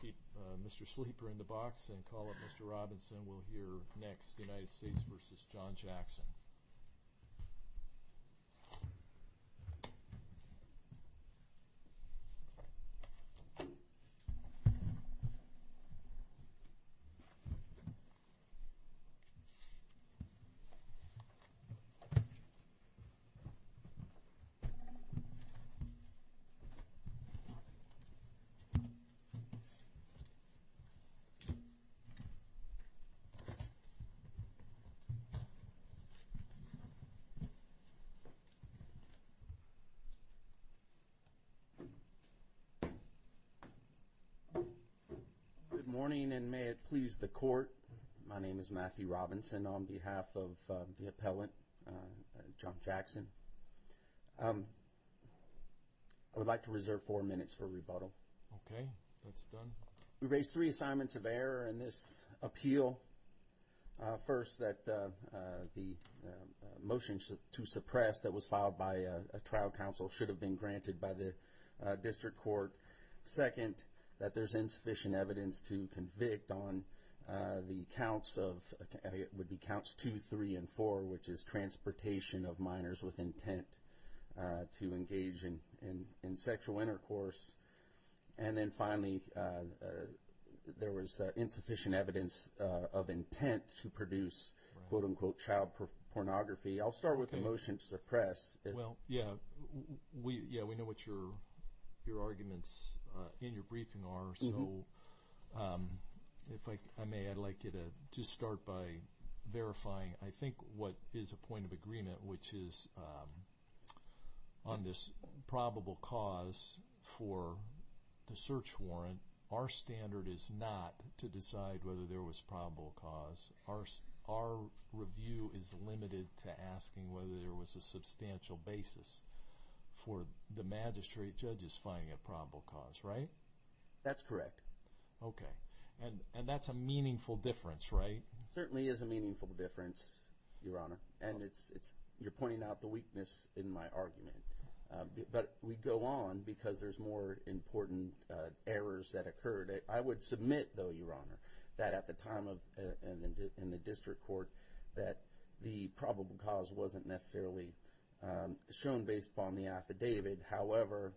Keep Mr. Sleeper in the box and call up Mr. Robinson. We'll hear next United States v. John Jackson. Good morning and may it please the court. My name is Matthew Robinson on behalf of the appellant, John Jackson. I would like to reserve four minutes for rebuttal. We raise three assignments of error in this appeal. First, that the motion to suppress that was filed by a trial counsel should have been granted by the district court. Second, that there's insufficient evidence to convict on the counts of 2, 3, and 4, which is transportation of minors with intent to engage in sexual intercourse. And then finally, there was insufficient evidence of intent to produce quote-unquote child pornography. I'll start with the motion to suppress. Well, yeah, we know what your arguments in your briefing are, so if I may, I'd like you to just start by verifying I think what is a point of agreement, which is on this probable cause for the search warrant, our standard is not to decide whether there was probable cause. Our review is limited to asking whether there was a substantial basis for the magistrate judges finding a probable cause, right? That's correct. Okay, and that's a meaningful difference, right? Certainly is a meaningful difference, Your Honor, and you're pointing out the weakness in my argument. But we go on because there's more important errors that occurred. I would submit, though, Your Honor, that at the time in the district court that the probable cause wasn't necessarily shown based upon the affidavit. However,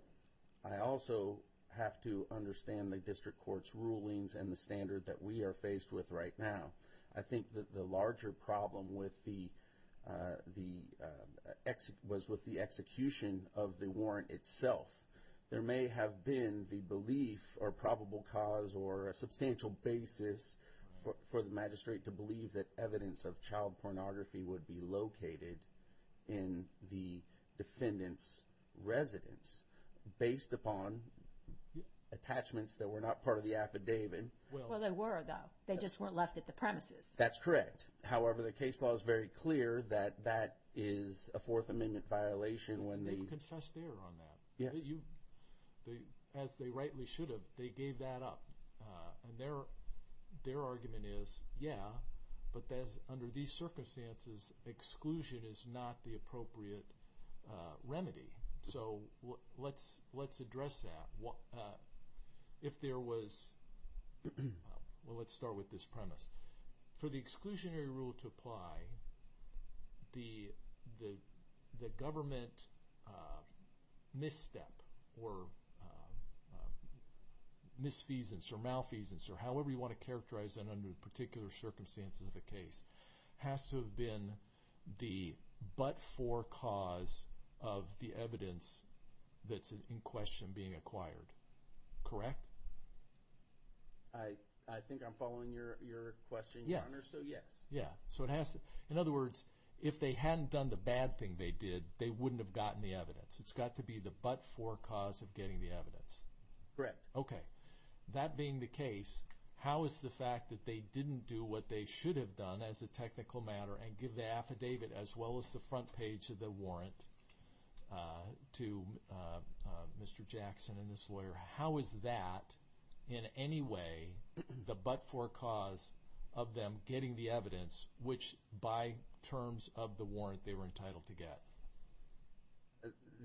I also have to understand the district court's rulings and the standard that we are faced with right now. I think that the larger problem was with the execution of the warrant itself. There may have been the belief or probable cause or a substantial basis for the magistrate to believe that evidence of child pornography would be located in the defendant's residence based upon attachments that were not part of the affidavit. Well, they were, though. They just weren't left at the premises. That's correct. However, the case law is very clear that that is a Fourth Amendment violation when the— They've confessed error on that. As they rightly should have, they gave that up. And their argument is, yeah, but under these circumstances, exclusion is not the appropriate remedy. So let's address that. If there was—well, let's start with this premise. For the exclusionary rule to apply, the government misstep or misfeasance or malfeasance or however you want to characterize that under particular circumstances of the case has to have been the but-for cause of the evidence that's in question being acquired. Correct? I think I'm following your question, Your Honor, so yes. Yeah. So it has to—in other words, if they hadn't done the bad thing they did, they wouldn't have gotten the evidence. It's got to be the but-for cause of getting the evidence. Correct. Okay. That being the case, how is the fact that they didn't do what they should have done as a technical matter and give the affidavit as well as the front page of the warrant to Mr. Jackson and this lawyer, how is that in any way the but-for cause of them getting the evidence which by terms of the warrant they were entitled to get?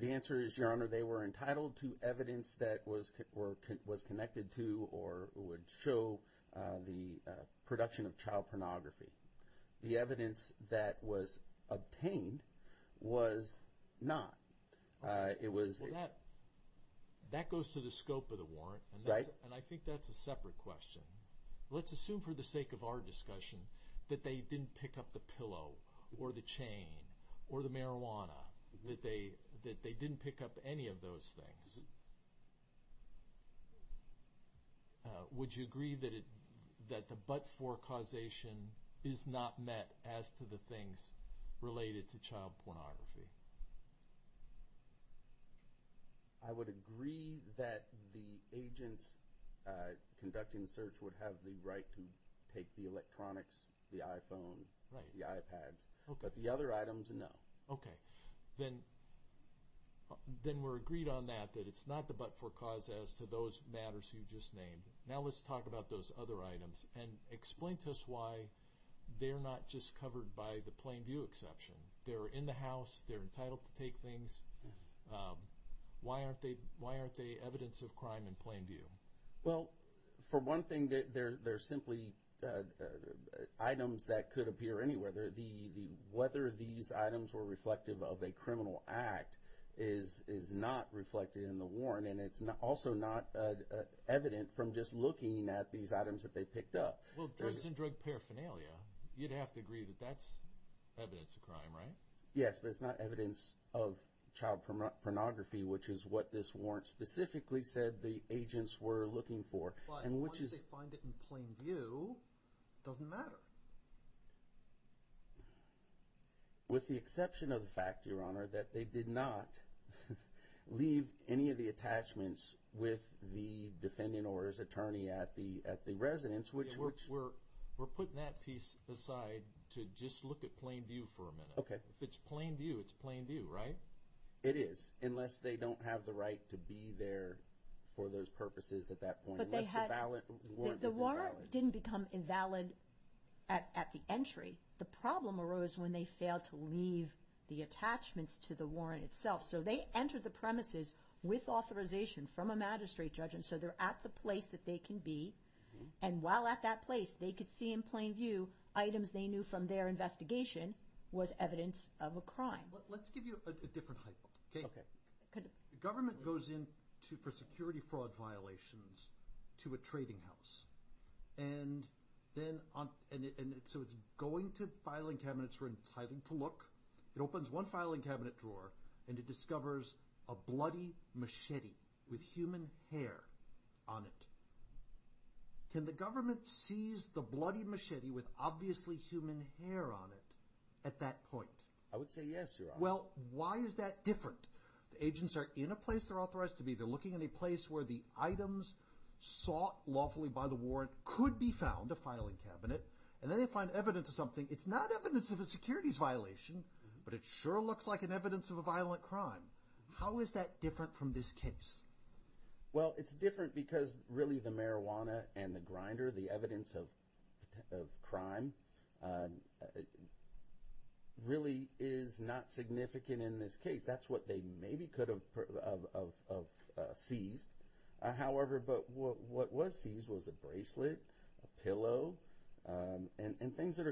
The answer is, Your Honor, they were entitled to evidence that was connected to or would show the production of child pornography. The evidence that was obtained was not. Well, that goes to the scope of the warrant. Right. And I think that's a separate question. Let's assume for the sake of our discussion that they didn't pick up the pillow or the chain or the marijuana, that they didn't pick up any of those things. Would you agree that the but-for causation is not met as to the things related to child pornography? I would agree that the agents conducting the search would have the right to take the electronics, the iPhone, the iPads, but the other items, no. Okay. Then we're agreed on that, that it's not the but-for cause as to those matters you just named. Now let's talk about those other items and explain to us why they're not just covered by the plain view exception. They're in the house. They're entitled to take things. Why aren't they evidence of crime in plain view? Well, for one thing, they're simply items that could appear anywhere. Whether these items were reflective of a criminal act is not reflected in the warrant, and it's also not evident from just looking at these items that they picked up. Well, drugs and drug paraphernalia, you'd have to agree that that's evidence of crime, right? Yes, but it's not evidence of child pornography, which is what this warrant specifically said the agents were looking for. But once they find it in plain view, it doesn't matter. With the exception of the fact, Your Honor, that they did not leave any of the attachments with the defendant or his attorney at the residence. We're putting that piece aside to just look at plain view for a minute. Okay. If it's plain view, it's plain view, right? It is, unless they don't have the right to be there for those purposes at that point, unless the warrant is invalid. The warrant didn't become invalid at the entry. The problem arose when they failed to leave the attachments to the warrant itself. So they entered the premises with authorization from a magistrate judge, and so they're at the place that they can be. And while at that place, they could see in plain view items they knew from their investigation was evidence of a crime. Let's give you a different hypo. Okay. The government goes in for security fraud violations to a trading house, and so it's going to filing cabinets where it's hiding to look. It opens one filing cabinet drawer, and it discovers a bloody machete with human hair on it. Can the government seize the bloody machete with obviously human hair on it at that point? I would say yes, Your Honor. Well, why is that different? The agents are in a place they're authorized to be. They're looking in a place where the items sought lawfully by the warrant could be found, a filing cabinet. And then they find evidence of something. It's not evidence of a securities violation, but it sure looks like an evidence of a violent crime. How is that different from this case? Well, it's different because really the marijuana and the grinder, the evidence of crime, really is not significant in this case. That's what they maybe could have seized. However, what was seized was a bracelet, a pillow, and things that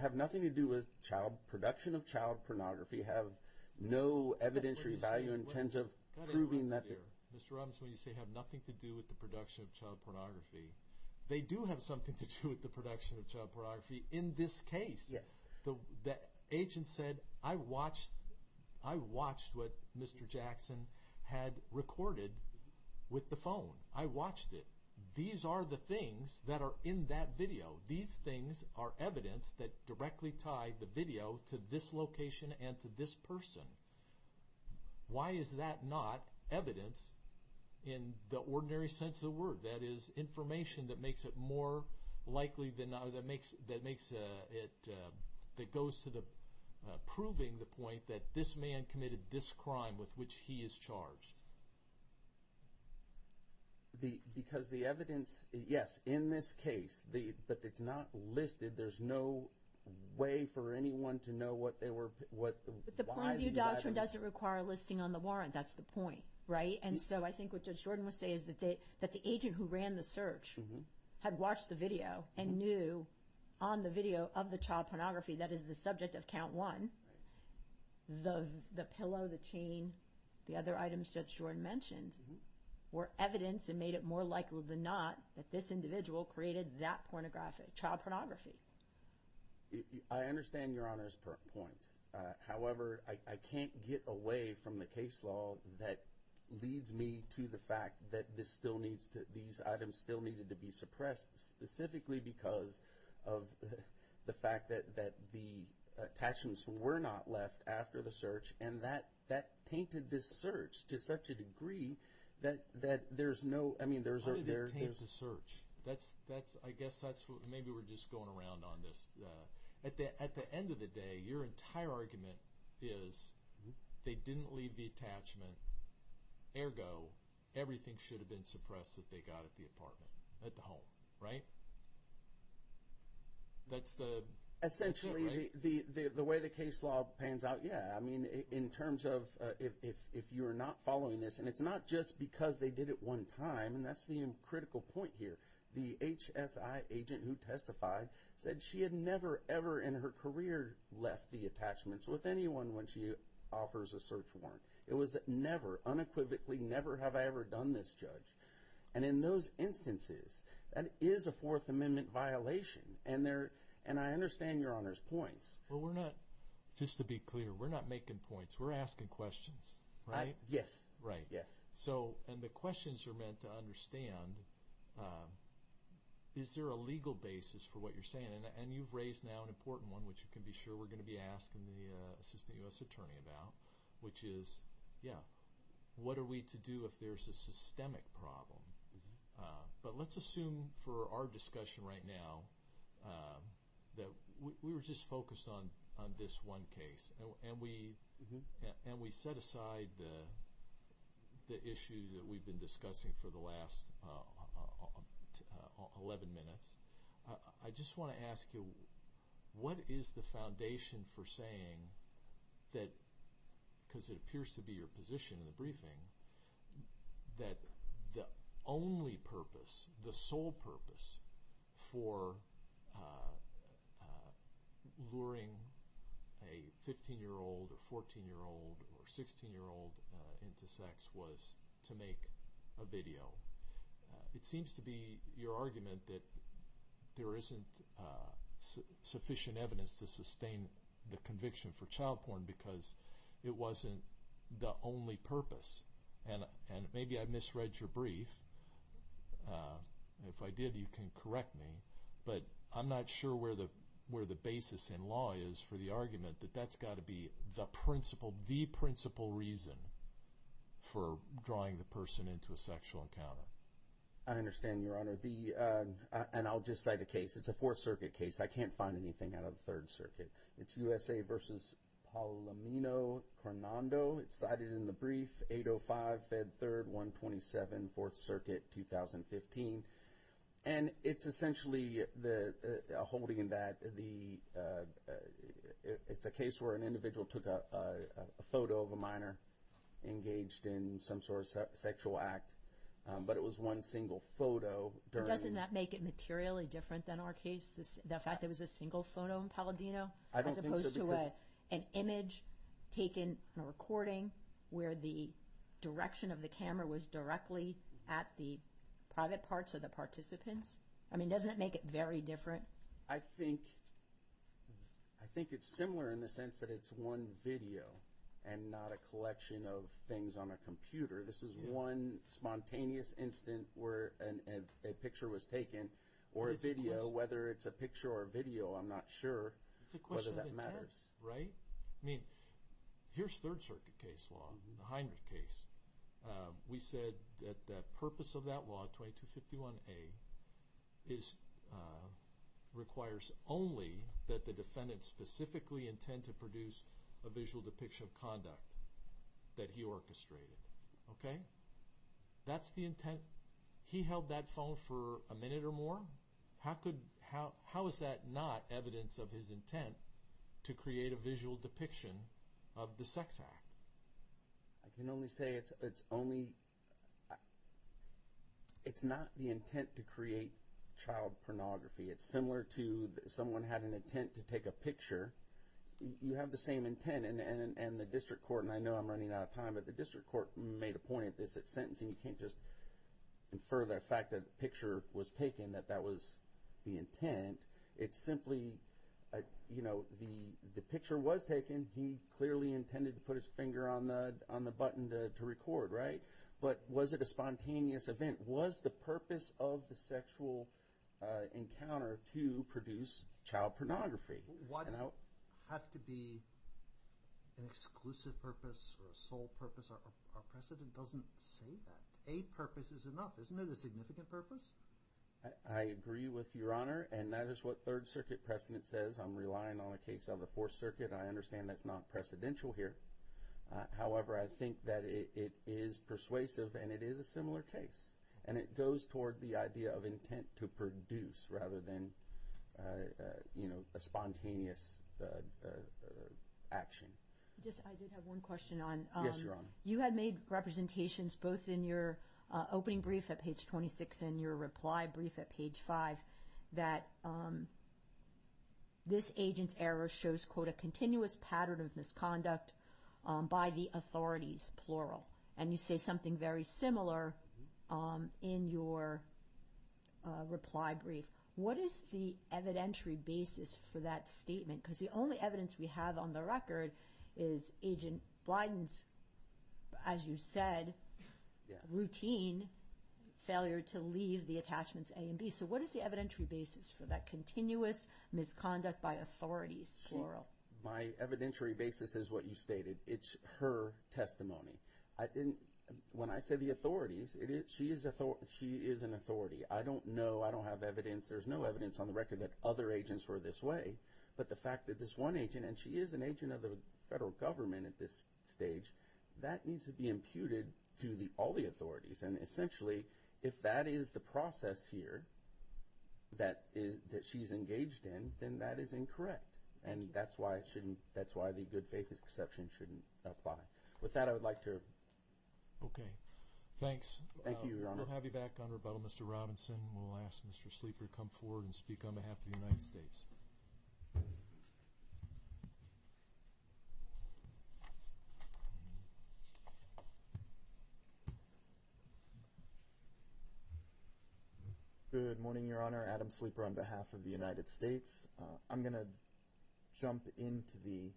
have nothing to do with production of child pornography, have no evidentiary value in terms of proving that they're- Mr. Robbins, when you say have nothing to do with the production of child pornography, they do have something to do with the production of child pornography in this case. Yes. The agent said, I watched what Mr. Jackson had recorded with the phone. I watched it. These are the things that are in that video. These things are evidence that directly tie the video to this location and to this person. Why is that not evidence in the ordinary sense of the word? That is information that makes it more likely that it goes to proving the point that this man committed this crime with which he is charged. Because the evidence, yes, in this case, but it's not listed. There's no way for anyone to know what they were- But the point of view doctrine doesn't require a listing on the warrant. That's the point, right? And so I think what Judge Jordan would say is that the agent who ran the search had watched the video and knew on the video of the child pornography that is the subject of count one, the pillow, the chain, the other items Judge Jordan mentioned, were evidence and made it more likely than not that this individual created that child pornography. I understand Your Honor's points. However, I can't get away from the case law that leads me to the fact that these items still needed to be suppressed specifically because of the fact that the attachments were not left after the search, and that tainted this search to such a degree that there's no- How did it taint the search? I guess maybe we're just going around on this. At the end of the day, your entire argument is they didn't leave the attachment. Ergo, everything should have been suppressed that they got at the apartment, at the home, right? That's the- Essentially, the way the case law pans out, yeah. I mean, in terms of if you're not following this, and it's not just because they did it one time, and that's the critical point here. The HSI agent who testified said she had never, ever in her career left the attachments with anyone when she offers a search warrant. It was never, unequivocally, never have I ever done this, Judge. And in those instances, that is a Fourth Amendment violation, and I understand Your Honor's points. Well, we're not- Just to be clear, we're not making points. We're asking questions, right? Yes, yes. So, and the questions are meant to understand, is there a legal basis for what you're saying? And you've raised now an important one, which you can be sure we're going to be asking the Assistant U.S. Attorney about, which is, yeah, what are we to do if there's a systemic problem? But let's assume for our discussion right now that we were just focused on this one case, and we set aside the issue that we've been discussing for the last 11 minutes. I just want to ask you, what is the foundation for saying that, because it appears to be your position in the briefing, that the only purpose, the sole purpose, for luring a 15-year-old or 14-year-old or 16-year-old into sex was to make a video? It seems to be your argument that there isn't sufficient evidence to sustain the conviction for child porn because it wasn't the only purpose. And maybe I misread your brief. If I did, you can correct me, but I'm not sure where the basis in law is for the argument that that's got to be the principle reason for drawing the person into a sexual encounter. I understand, Your Honor. And I'll just cite a case. It's a Fourth Circuit case. I can't find anything out of the Third Circuit. It's USA v. Palomino-Carnando. It's cited in the brief, 805, Fed 3rd, 127, Fourth Circuit, 2015. And it's essentially holding that it's a case where an individual took a photo of a minor engaged in some sort of sexual act, but it was one single photo. Doesn't that make it materially different than our case, the fact that it was a single photo in Palomino, as opposed to an image taken on a recording where the direction of the camera was directly at the private parts of the participants? I mean, doesn't it make it very different? I think it's similar in the sense that it's one video and not a collection of things on a computer. This is one spontaneous instant where a picture was taken, or a video. Whether it's a picture or a video, I'm not sure whether that matters. It's a question of intent, right? I mean, here's Third Circuit case law, the Heinrich case. We said that the purpose of that law, 2251A, requires only that the defendant specifically intend to produce a visual depiction of conduct that he orchestrated. Okay? That's the intent. He held that phone for a minute or more. How is that not evidence of his intent to create a visual depiction of the sex act? I can only say it's not the intent to create child pornography. It's similar to someone had an intent to take a picture. You have the same intent, and the district court, and I know I'm running out of time, but the district court made a point at this at sentencing. You can't just infer the fact that the picture was taken, that that was the intent. It's simply, you know, the picture was taken. He clearly intended to put his finger on the button to record, right? But was it a spontaneous event? Was the purpose of the sexual encounter to produce child pornography? Why does it have to be an exclusive purpose or a sole purpose? Our precedent doesn't say that. A purpose is enough. Isn't it a significant purpose? I agree with Your Honor, and that is what Third Circuit precedent says. I'm relying on a case of the Fourth Circuit. I understand that's not precedential here. However, I think that it is persuasive, and it is a similar case, and it goes toward the idea of intent to produce rather than, you know, a spontaneous action. Just I did have one question on. Yes, Your Honor. You had made representations both in your opening brief at page 26 and your reply brief at page 5 that this agent's error shows, quote, a continuous pattern of misconduct by the authorities, plural. And you say something very similar in your reply brief. What is the evidentiary basis for that statement? Because the only evidence we have on the record is Agent Blyden's, as you said, routine failure to leave the attachments A and B. So what is the evidentiary basis for that continuous misconduct by authorities, plural? My evidentiary basis is what you stated. It's her testimony. When I say the authorities, she is an authority. I don't know. I don't have evidence. There's no evidence on the record that other agents were this way. But the fact that this one agent, and she is an agent of the federal government at this stage, that needs to be imputed to all the authorities. And essentially, if that is the process here that she's engaged in, then that is incorrect. And that's why the good faith exception shouldn't apply. With that, I would like to... Okay. Thanks. Thank you, Your Honor. We'll have you back on rebuttal, Mr. Robinson. We'll ask Mr. Sleeper to come forward and speak on behalf of the United States. Good morning, Your Honor. Adam Sleeper on behalf of the United States. I'm going to jump into the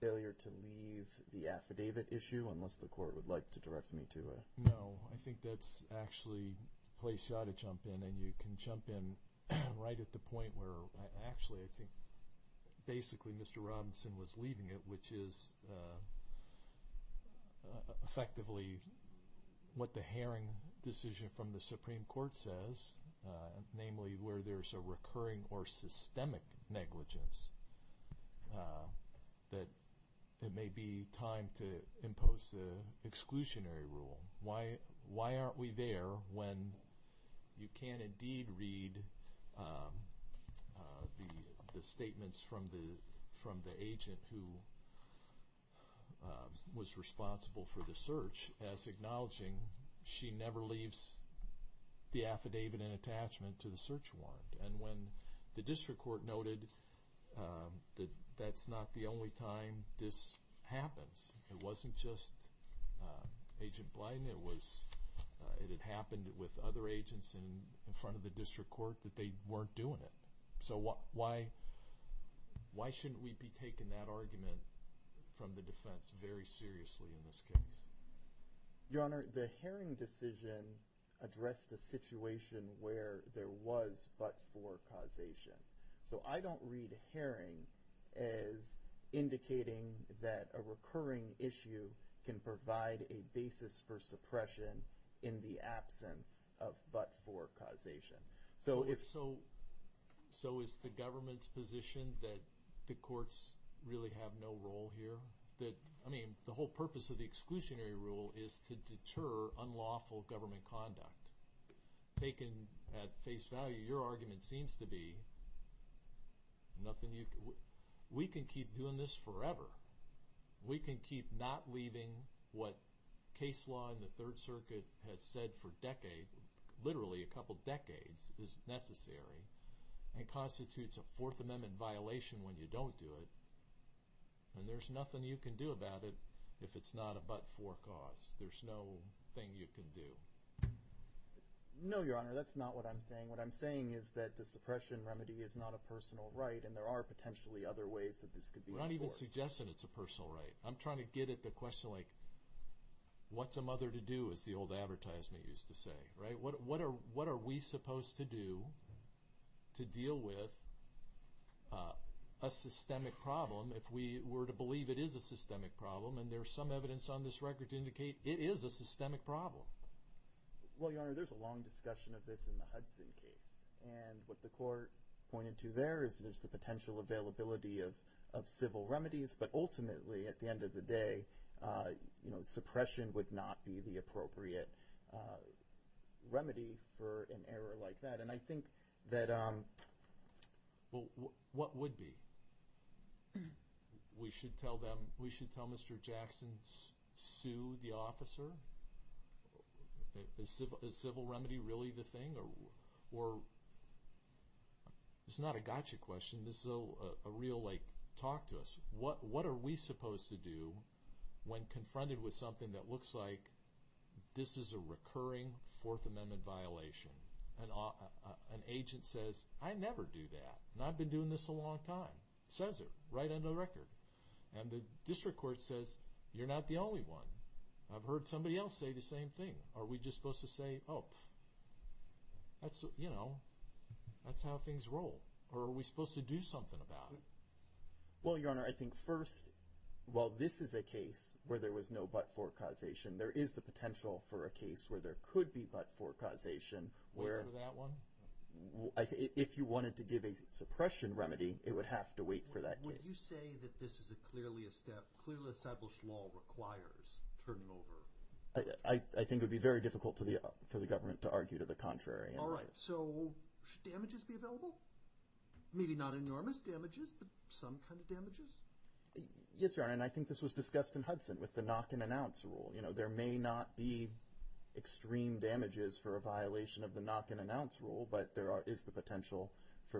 failure to leave the affidavit issue, unless the court would like to direct me to it. No, I think that's actually a place you ought to jump in. And you can jump in right at the point where, actually, I think basically Mr. Robinson was leaving it, which is effectively what the Haring decision from the Supreme Court says, namely where there's a recurring or systemic negligence, that it may be time to impose the exclusionary rule. Why aren't we there when you can indeed read the statements from the agent who was responsible for the search as acknowledging she never leaves the affidavit in attachment to the search warrant? And when the district court noted that that's not the only time this happens. It wasn't just Agent Blyden. It had happened with other agents in front of the district court that they weren't doing it. So why shouldn't we be taking that argument from the defense very seriously in this case? Your Honor, the Haring decision addressed a situation where there was but-for causation. So I don't read Haring as indicating that a recurring issue can provide a basis for suppression in the absence of but-for causation. So is the government's position that the courts really have no role here? The whole purpose of the exclusionary rule is to deter unlawful government conduct. Taken at face value, your argument seems to be we can keep doing this forever. We can keep not leaving what case law in the Third Circuit has said for literally a couple decades is necessary and constitutes a Fourth Amendment violation when you don't do it. And there's nothing you can do about it if it's not a but-for cause. There's no thing you can do. No, your Honor, that's not what I'm saying. What I'm saying is that the suppression remedy is not a personal right and there are potentially other ways that this could be enforced. We're not even suggesting it's a personal right. I'm trying to get at the question like what's a mother to do as the old advertisement used to say, right? What are we supposed to do to deal with a systemic problem if we were to believe it is a systemic problem and there's some evidence on this record to indicate it is a systemic problem? Well, your Honor, there's a long discussion of this in the Hudson case and what the court pointed to there is there's the potential availability of civil remedies but ultimately at the end of the day, you know, suppression would not be the appropriate remedy for an error like that. And I think that, well, what would be? We should tell Mr. Jackson, sue the officer? Is civil remedy really the thing? It's not a gotcha question, this is a real like talk to us. What are we supposed to do when confronted with something that looks like this is a recurring Fourth Amendment violation? An agent says, I never do that and I've been doing this a long time, says it right on the record. And the district court says, you're not the only one. I've heard somebody else say the same thing. Are we just supposed to say, oh, that's, you know, that's how things roll or are we supposed to do something about it? Well, Your Honor, I think first, while this is a case where there was no but-for causation, there is the potential for a case where there could be but-for causation. Wait for that one? If you wanted to give a suppression remedy, it would have to wait for that case. Would you say that this is clearly a step, clearly established law requires turning over? I think it would be very difficult for the government to argue to the contrary. All right, so should damages be available? Maybe not enormous damages, but some kind of damages? Yes, Your Honor, and I think this was discussed in Hudson with the knock-and-announce rule. You know, there may not be extreme damages for a violation of the knock-and-announce rule, but there is the potential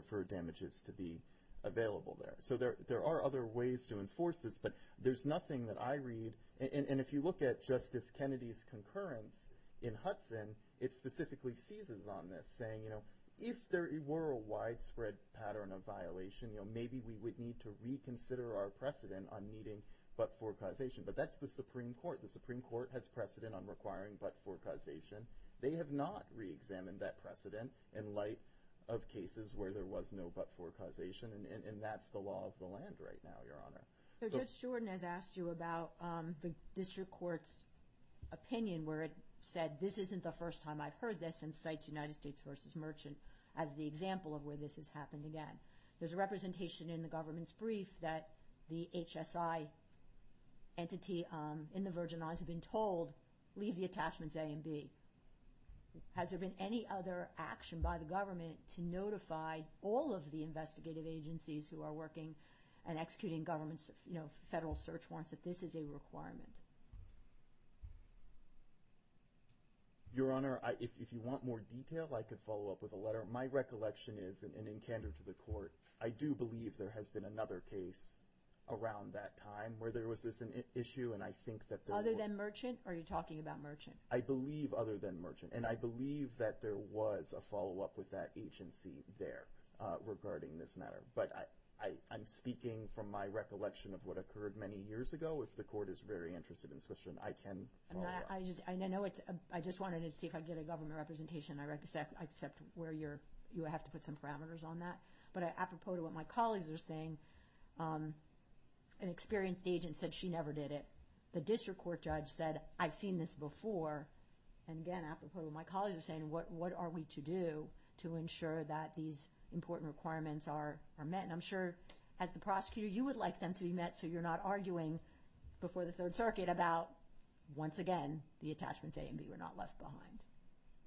for damages to be available there. So there are other ways to enforce this, but there's nothing that I read. And if you look at Justice Kennedy's concurrence in Hudson, it specifically seizes on this, saying, you know, if there were a widespread pattern of violation, maybe we would need to reconsider our precedent on needing but-for causation. But that's the Supreme Court. The Supreme Court has precedent on requiring but-for causation. They have not reexamined that precedent in light of cases where there was no but-for causation, and that's the law of the land right now, Your Honor. Judge Jordan has asked you about the district court's opinion where it said, this isn't the first time I've heard this, and cites United States v. Merchant as the example of where this has happened again. There's a representation in the government's brief that the HSI entity in the Virgin Islands had been told, leave the attachments A and B. Has there been any other action by the government to notify all of the investigative agencies who are working and executing government's federal search warrants that this is a requirement? Your Honor, if you want more detail, I could follow up with a letter. My recollection is, and in candor to the Court, I do believe there has been another case around that time where there was this issue, and I think that there were- Other than Merchant, or are you talking about Merchant? I believe other than Merchant, and I believe that there was a follow-up with that agency there regarding this matter. But I'm speaking from my recollection of what occurred many years ago. If the Court is very interested in this question, I can follow up. I just wanted to see if I could get a government representation. I accept where you have to put some parameters on that. But apropos to what my colleagues are saying, an experienced agent said she never did it. The district court judge said, I've seen this before. And again, apropos to what my colleagues are saying, what are we to do to ensure that these important requirements are met? And I'm sure, as the prosecutor, you would like them to be met so you're not arguing before the Third Circuit about, once again, the attachments A and B were not left behind.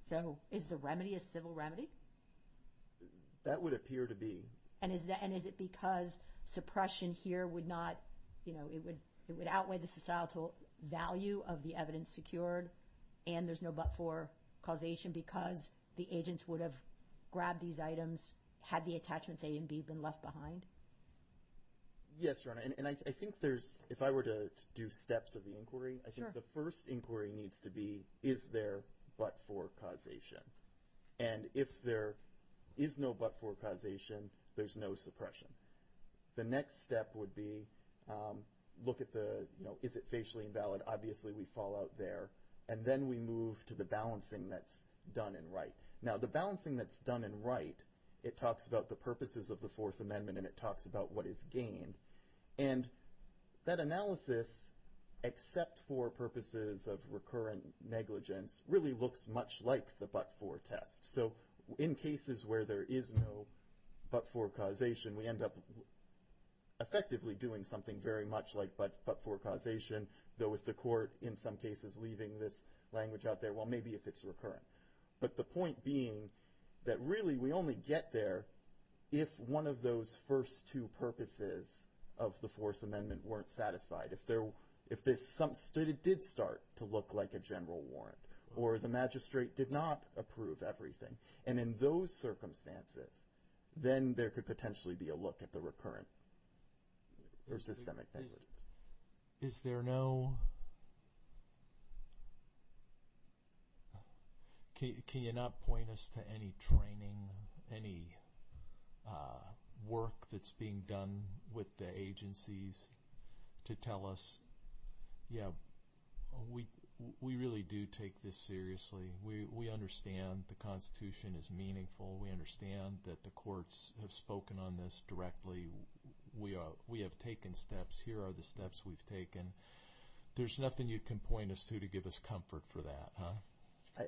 So is the remedy a civil remedy? That would appear to be. And is it because suppression here would not- it would outweigh the societal value of the evidence secured, and there's no but-for causation because the agents would have grabbed these items had the attachments A and B been left behind? Yes, Your Honor. And I think there's- if I were to do steps of the inquiry, I think the first inquiry needs to be, is there but-for causation? And if there is no but-for causation, there's no suppression. The next step would be look at the, you know, is it facially invalid? Obviously we fall out there. And then we move to the balancing that's done and right. Now, the balancing that's done and right, it talks about the purposes of the Fourth Amendment and it talks about what is gained. And that analysis, except for purposes of recurrent negligence, really looks much like the but-for test. So in cases where there is no but-for causation, we end up effectively doing something very much like but-for causation, though with the court in some cases leaving this language out there, well, maybe if it's recurrent. But the point being that really we only get there if one of those first two purposes of the Fourth Amendment weren't satisfied, if it did start to look like a general warrant or the magistrate did not approve everything. And in those circumstances, then there could potentially be a look at the recurrent or systemic negligence. Is there no – can you not point us to any training, any work that's being done with the agencies to tell us, yeah, we really do take this seriously. We understand the Constitution is meaningful. We understand that the courts have spoken on this directly. We have taken steps. Here are the steps we've taken. There's nothing you can point us to to give us comfort for that, huh?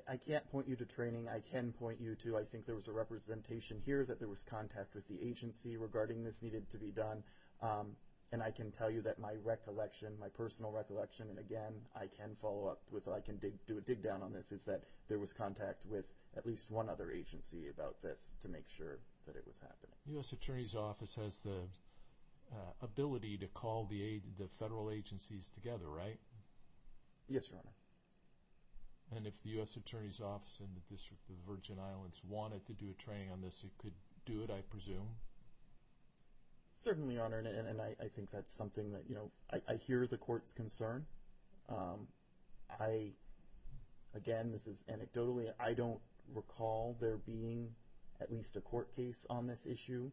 I can't point you to training. I can point you to I think there was a representation here that there was contact with the agency regarding this needed to be done. And I can tell you that my recollection, my personal recollection, and, again, I can follow up with, I can dig down on this, is that there was contact with at least one other agency about this to make sure that it was happening. The U.S. Attorney's Office has the ability to call the federal agencies together, right? Yes, Your Honor. And if the U.S. Attorney's Office and the District of the Virgin Islands wanted to do a training on this, it could do it, I presume? Certainly, Your Honor, and I think that's something that, you know, I hear the court's concern. I, again, this is anecdotally, I don't recall there being at least a court case on this issue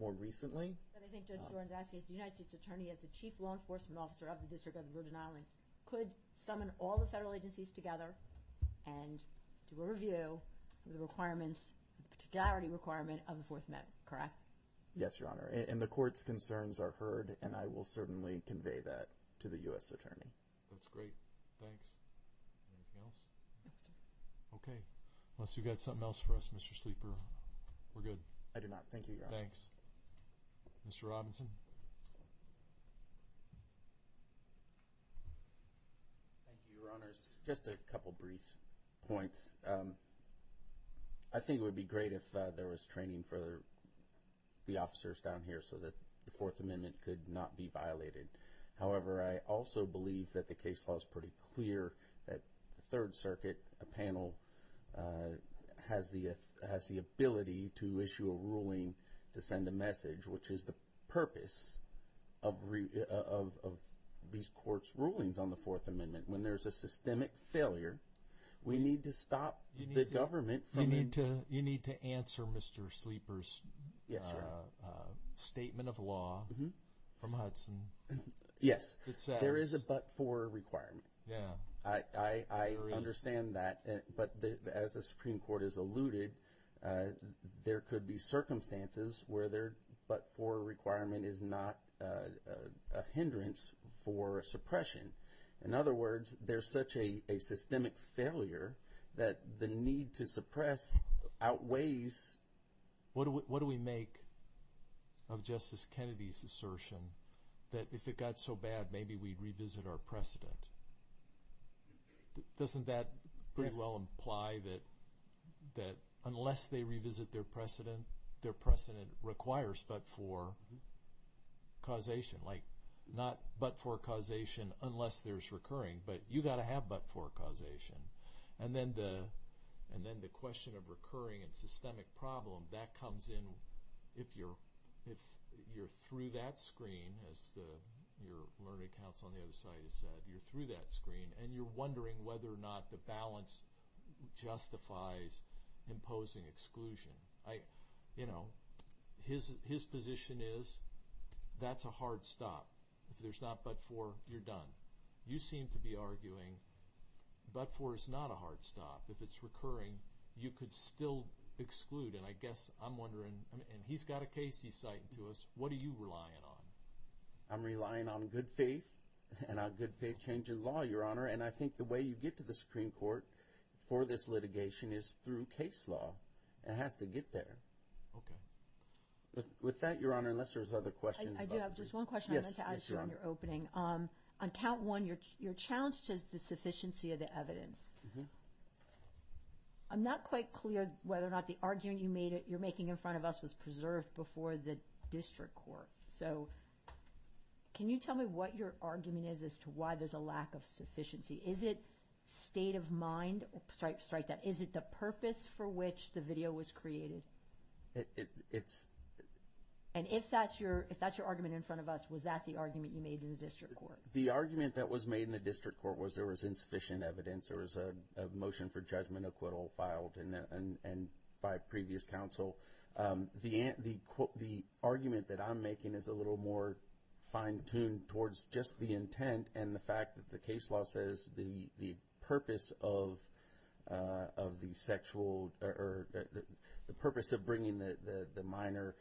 more recently. But I think Judge Jordan's asking is the United States Attorney as the Chief Law Enforcement Officer of the District of the Virgin Islands could summon all the federal agencies together and do a review of the requirements, the particularity requirement of the Fourth Amendment, correct? Yes, Your Honor, and the court's concerns are heard, and I will certainly convey that to the U.S. Attorney. That's great. Thanks. Anything else? No, sir. Okay. Unless you've got something else for us, Mr. Sleeper. We're good. I do not. Thank you, Your Honor. Thanks. Mr. Robinson. Thank you, Your Honors. Just a couple brief points. I think it would be great if there was training for the officers down here so that the Fourth Amendment could not be violated. However, I also believe that the case law is pretty clear that the Third Circuit panel has the ability to issue a ruling to send a message, which is the purpose of these courts' rulings on the Fourth Amendment. When there's a systemic failure, we need to stop the government from it. You need to answer Mr. Sleeper's statement of law from Hudson. Yes, there is a but-for requirement. Yeah. I understand that, but as the Supreme Court has alluded, there could be circumstances where the but-for requirement is not a hindrance for suppression. In other words, there's such a systemic failure that the need to suppress outweighs. What do we make of Justice Kennedy's assertion that if it got so bad, maybe we'd revisit our precedent? Doesn't that pretty well imply that unless they revisit their precedent, their precedent requires but-for causation, like not but-for causation unless there's recurring, but you've got to have but-for causation. And then the question of recurring and systemic problem, that comes in if you're through that screen, as your learning council on the other side has said, you're through that screen and you're wondering whether or not the balance justifies imposing exclusion. You know, his position is that's a hard stop. If there's not but-for, you're done. You seem to be arguing but-for is not a hard stop. If it's recurring, you could still exclude. And I guess I'm wondering, and he's got a case he's citing to us. What are you relying on? I'm relying on good faith and a good faith change in law, Your Honor. And I think the way you get to the Supreme Court for this litigation is through case law. It has to get there. Okay. With that, Your Honor, unless there's other questions. I do have just one question. Yes, Your Honor. On count one, your challenge says the sufficiency of the evidence. I'm not quite clear whether or not the argument you're making in front of us was preserved before the district court. So can you tell me what your argument is as to why there's a lack of sufficiency? Is it state of mind? Is it the purpose for which the video was created? It's- And if that's your argument in front of us, was that the argument you made in the district court? The argument that was made in the district court was there was insufficient evidence. There was a motion for judgment acquittal filed by previous counsel. The argument that I'm making is a little more fine-tuned towards just the intent and the fact that the case law says the purpose of bringing the minor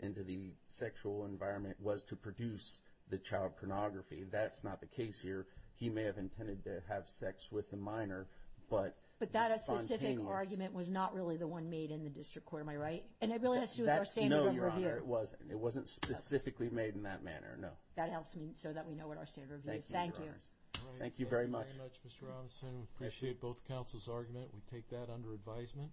into the sexual environment was to produce the child pornography. That's not the case here. He may have intended to have sex with the minor, but- But that specific argument was not really the one made in the district court. Am I right? And it really has to do with our standard of review. No, Your Honor. It wasn't specifically made in that manner. No. That helps me so that we know what our standard of review is. Thank you, Your Honor. Thank you. Thank you very much. Thank you very much, Mr. Robinson. We appreciate both counsel's argument. We take that under advisement.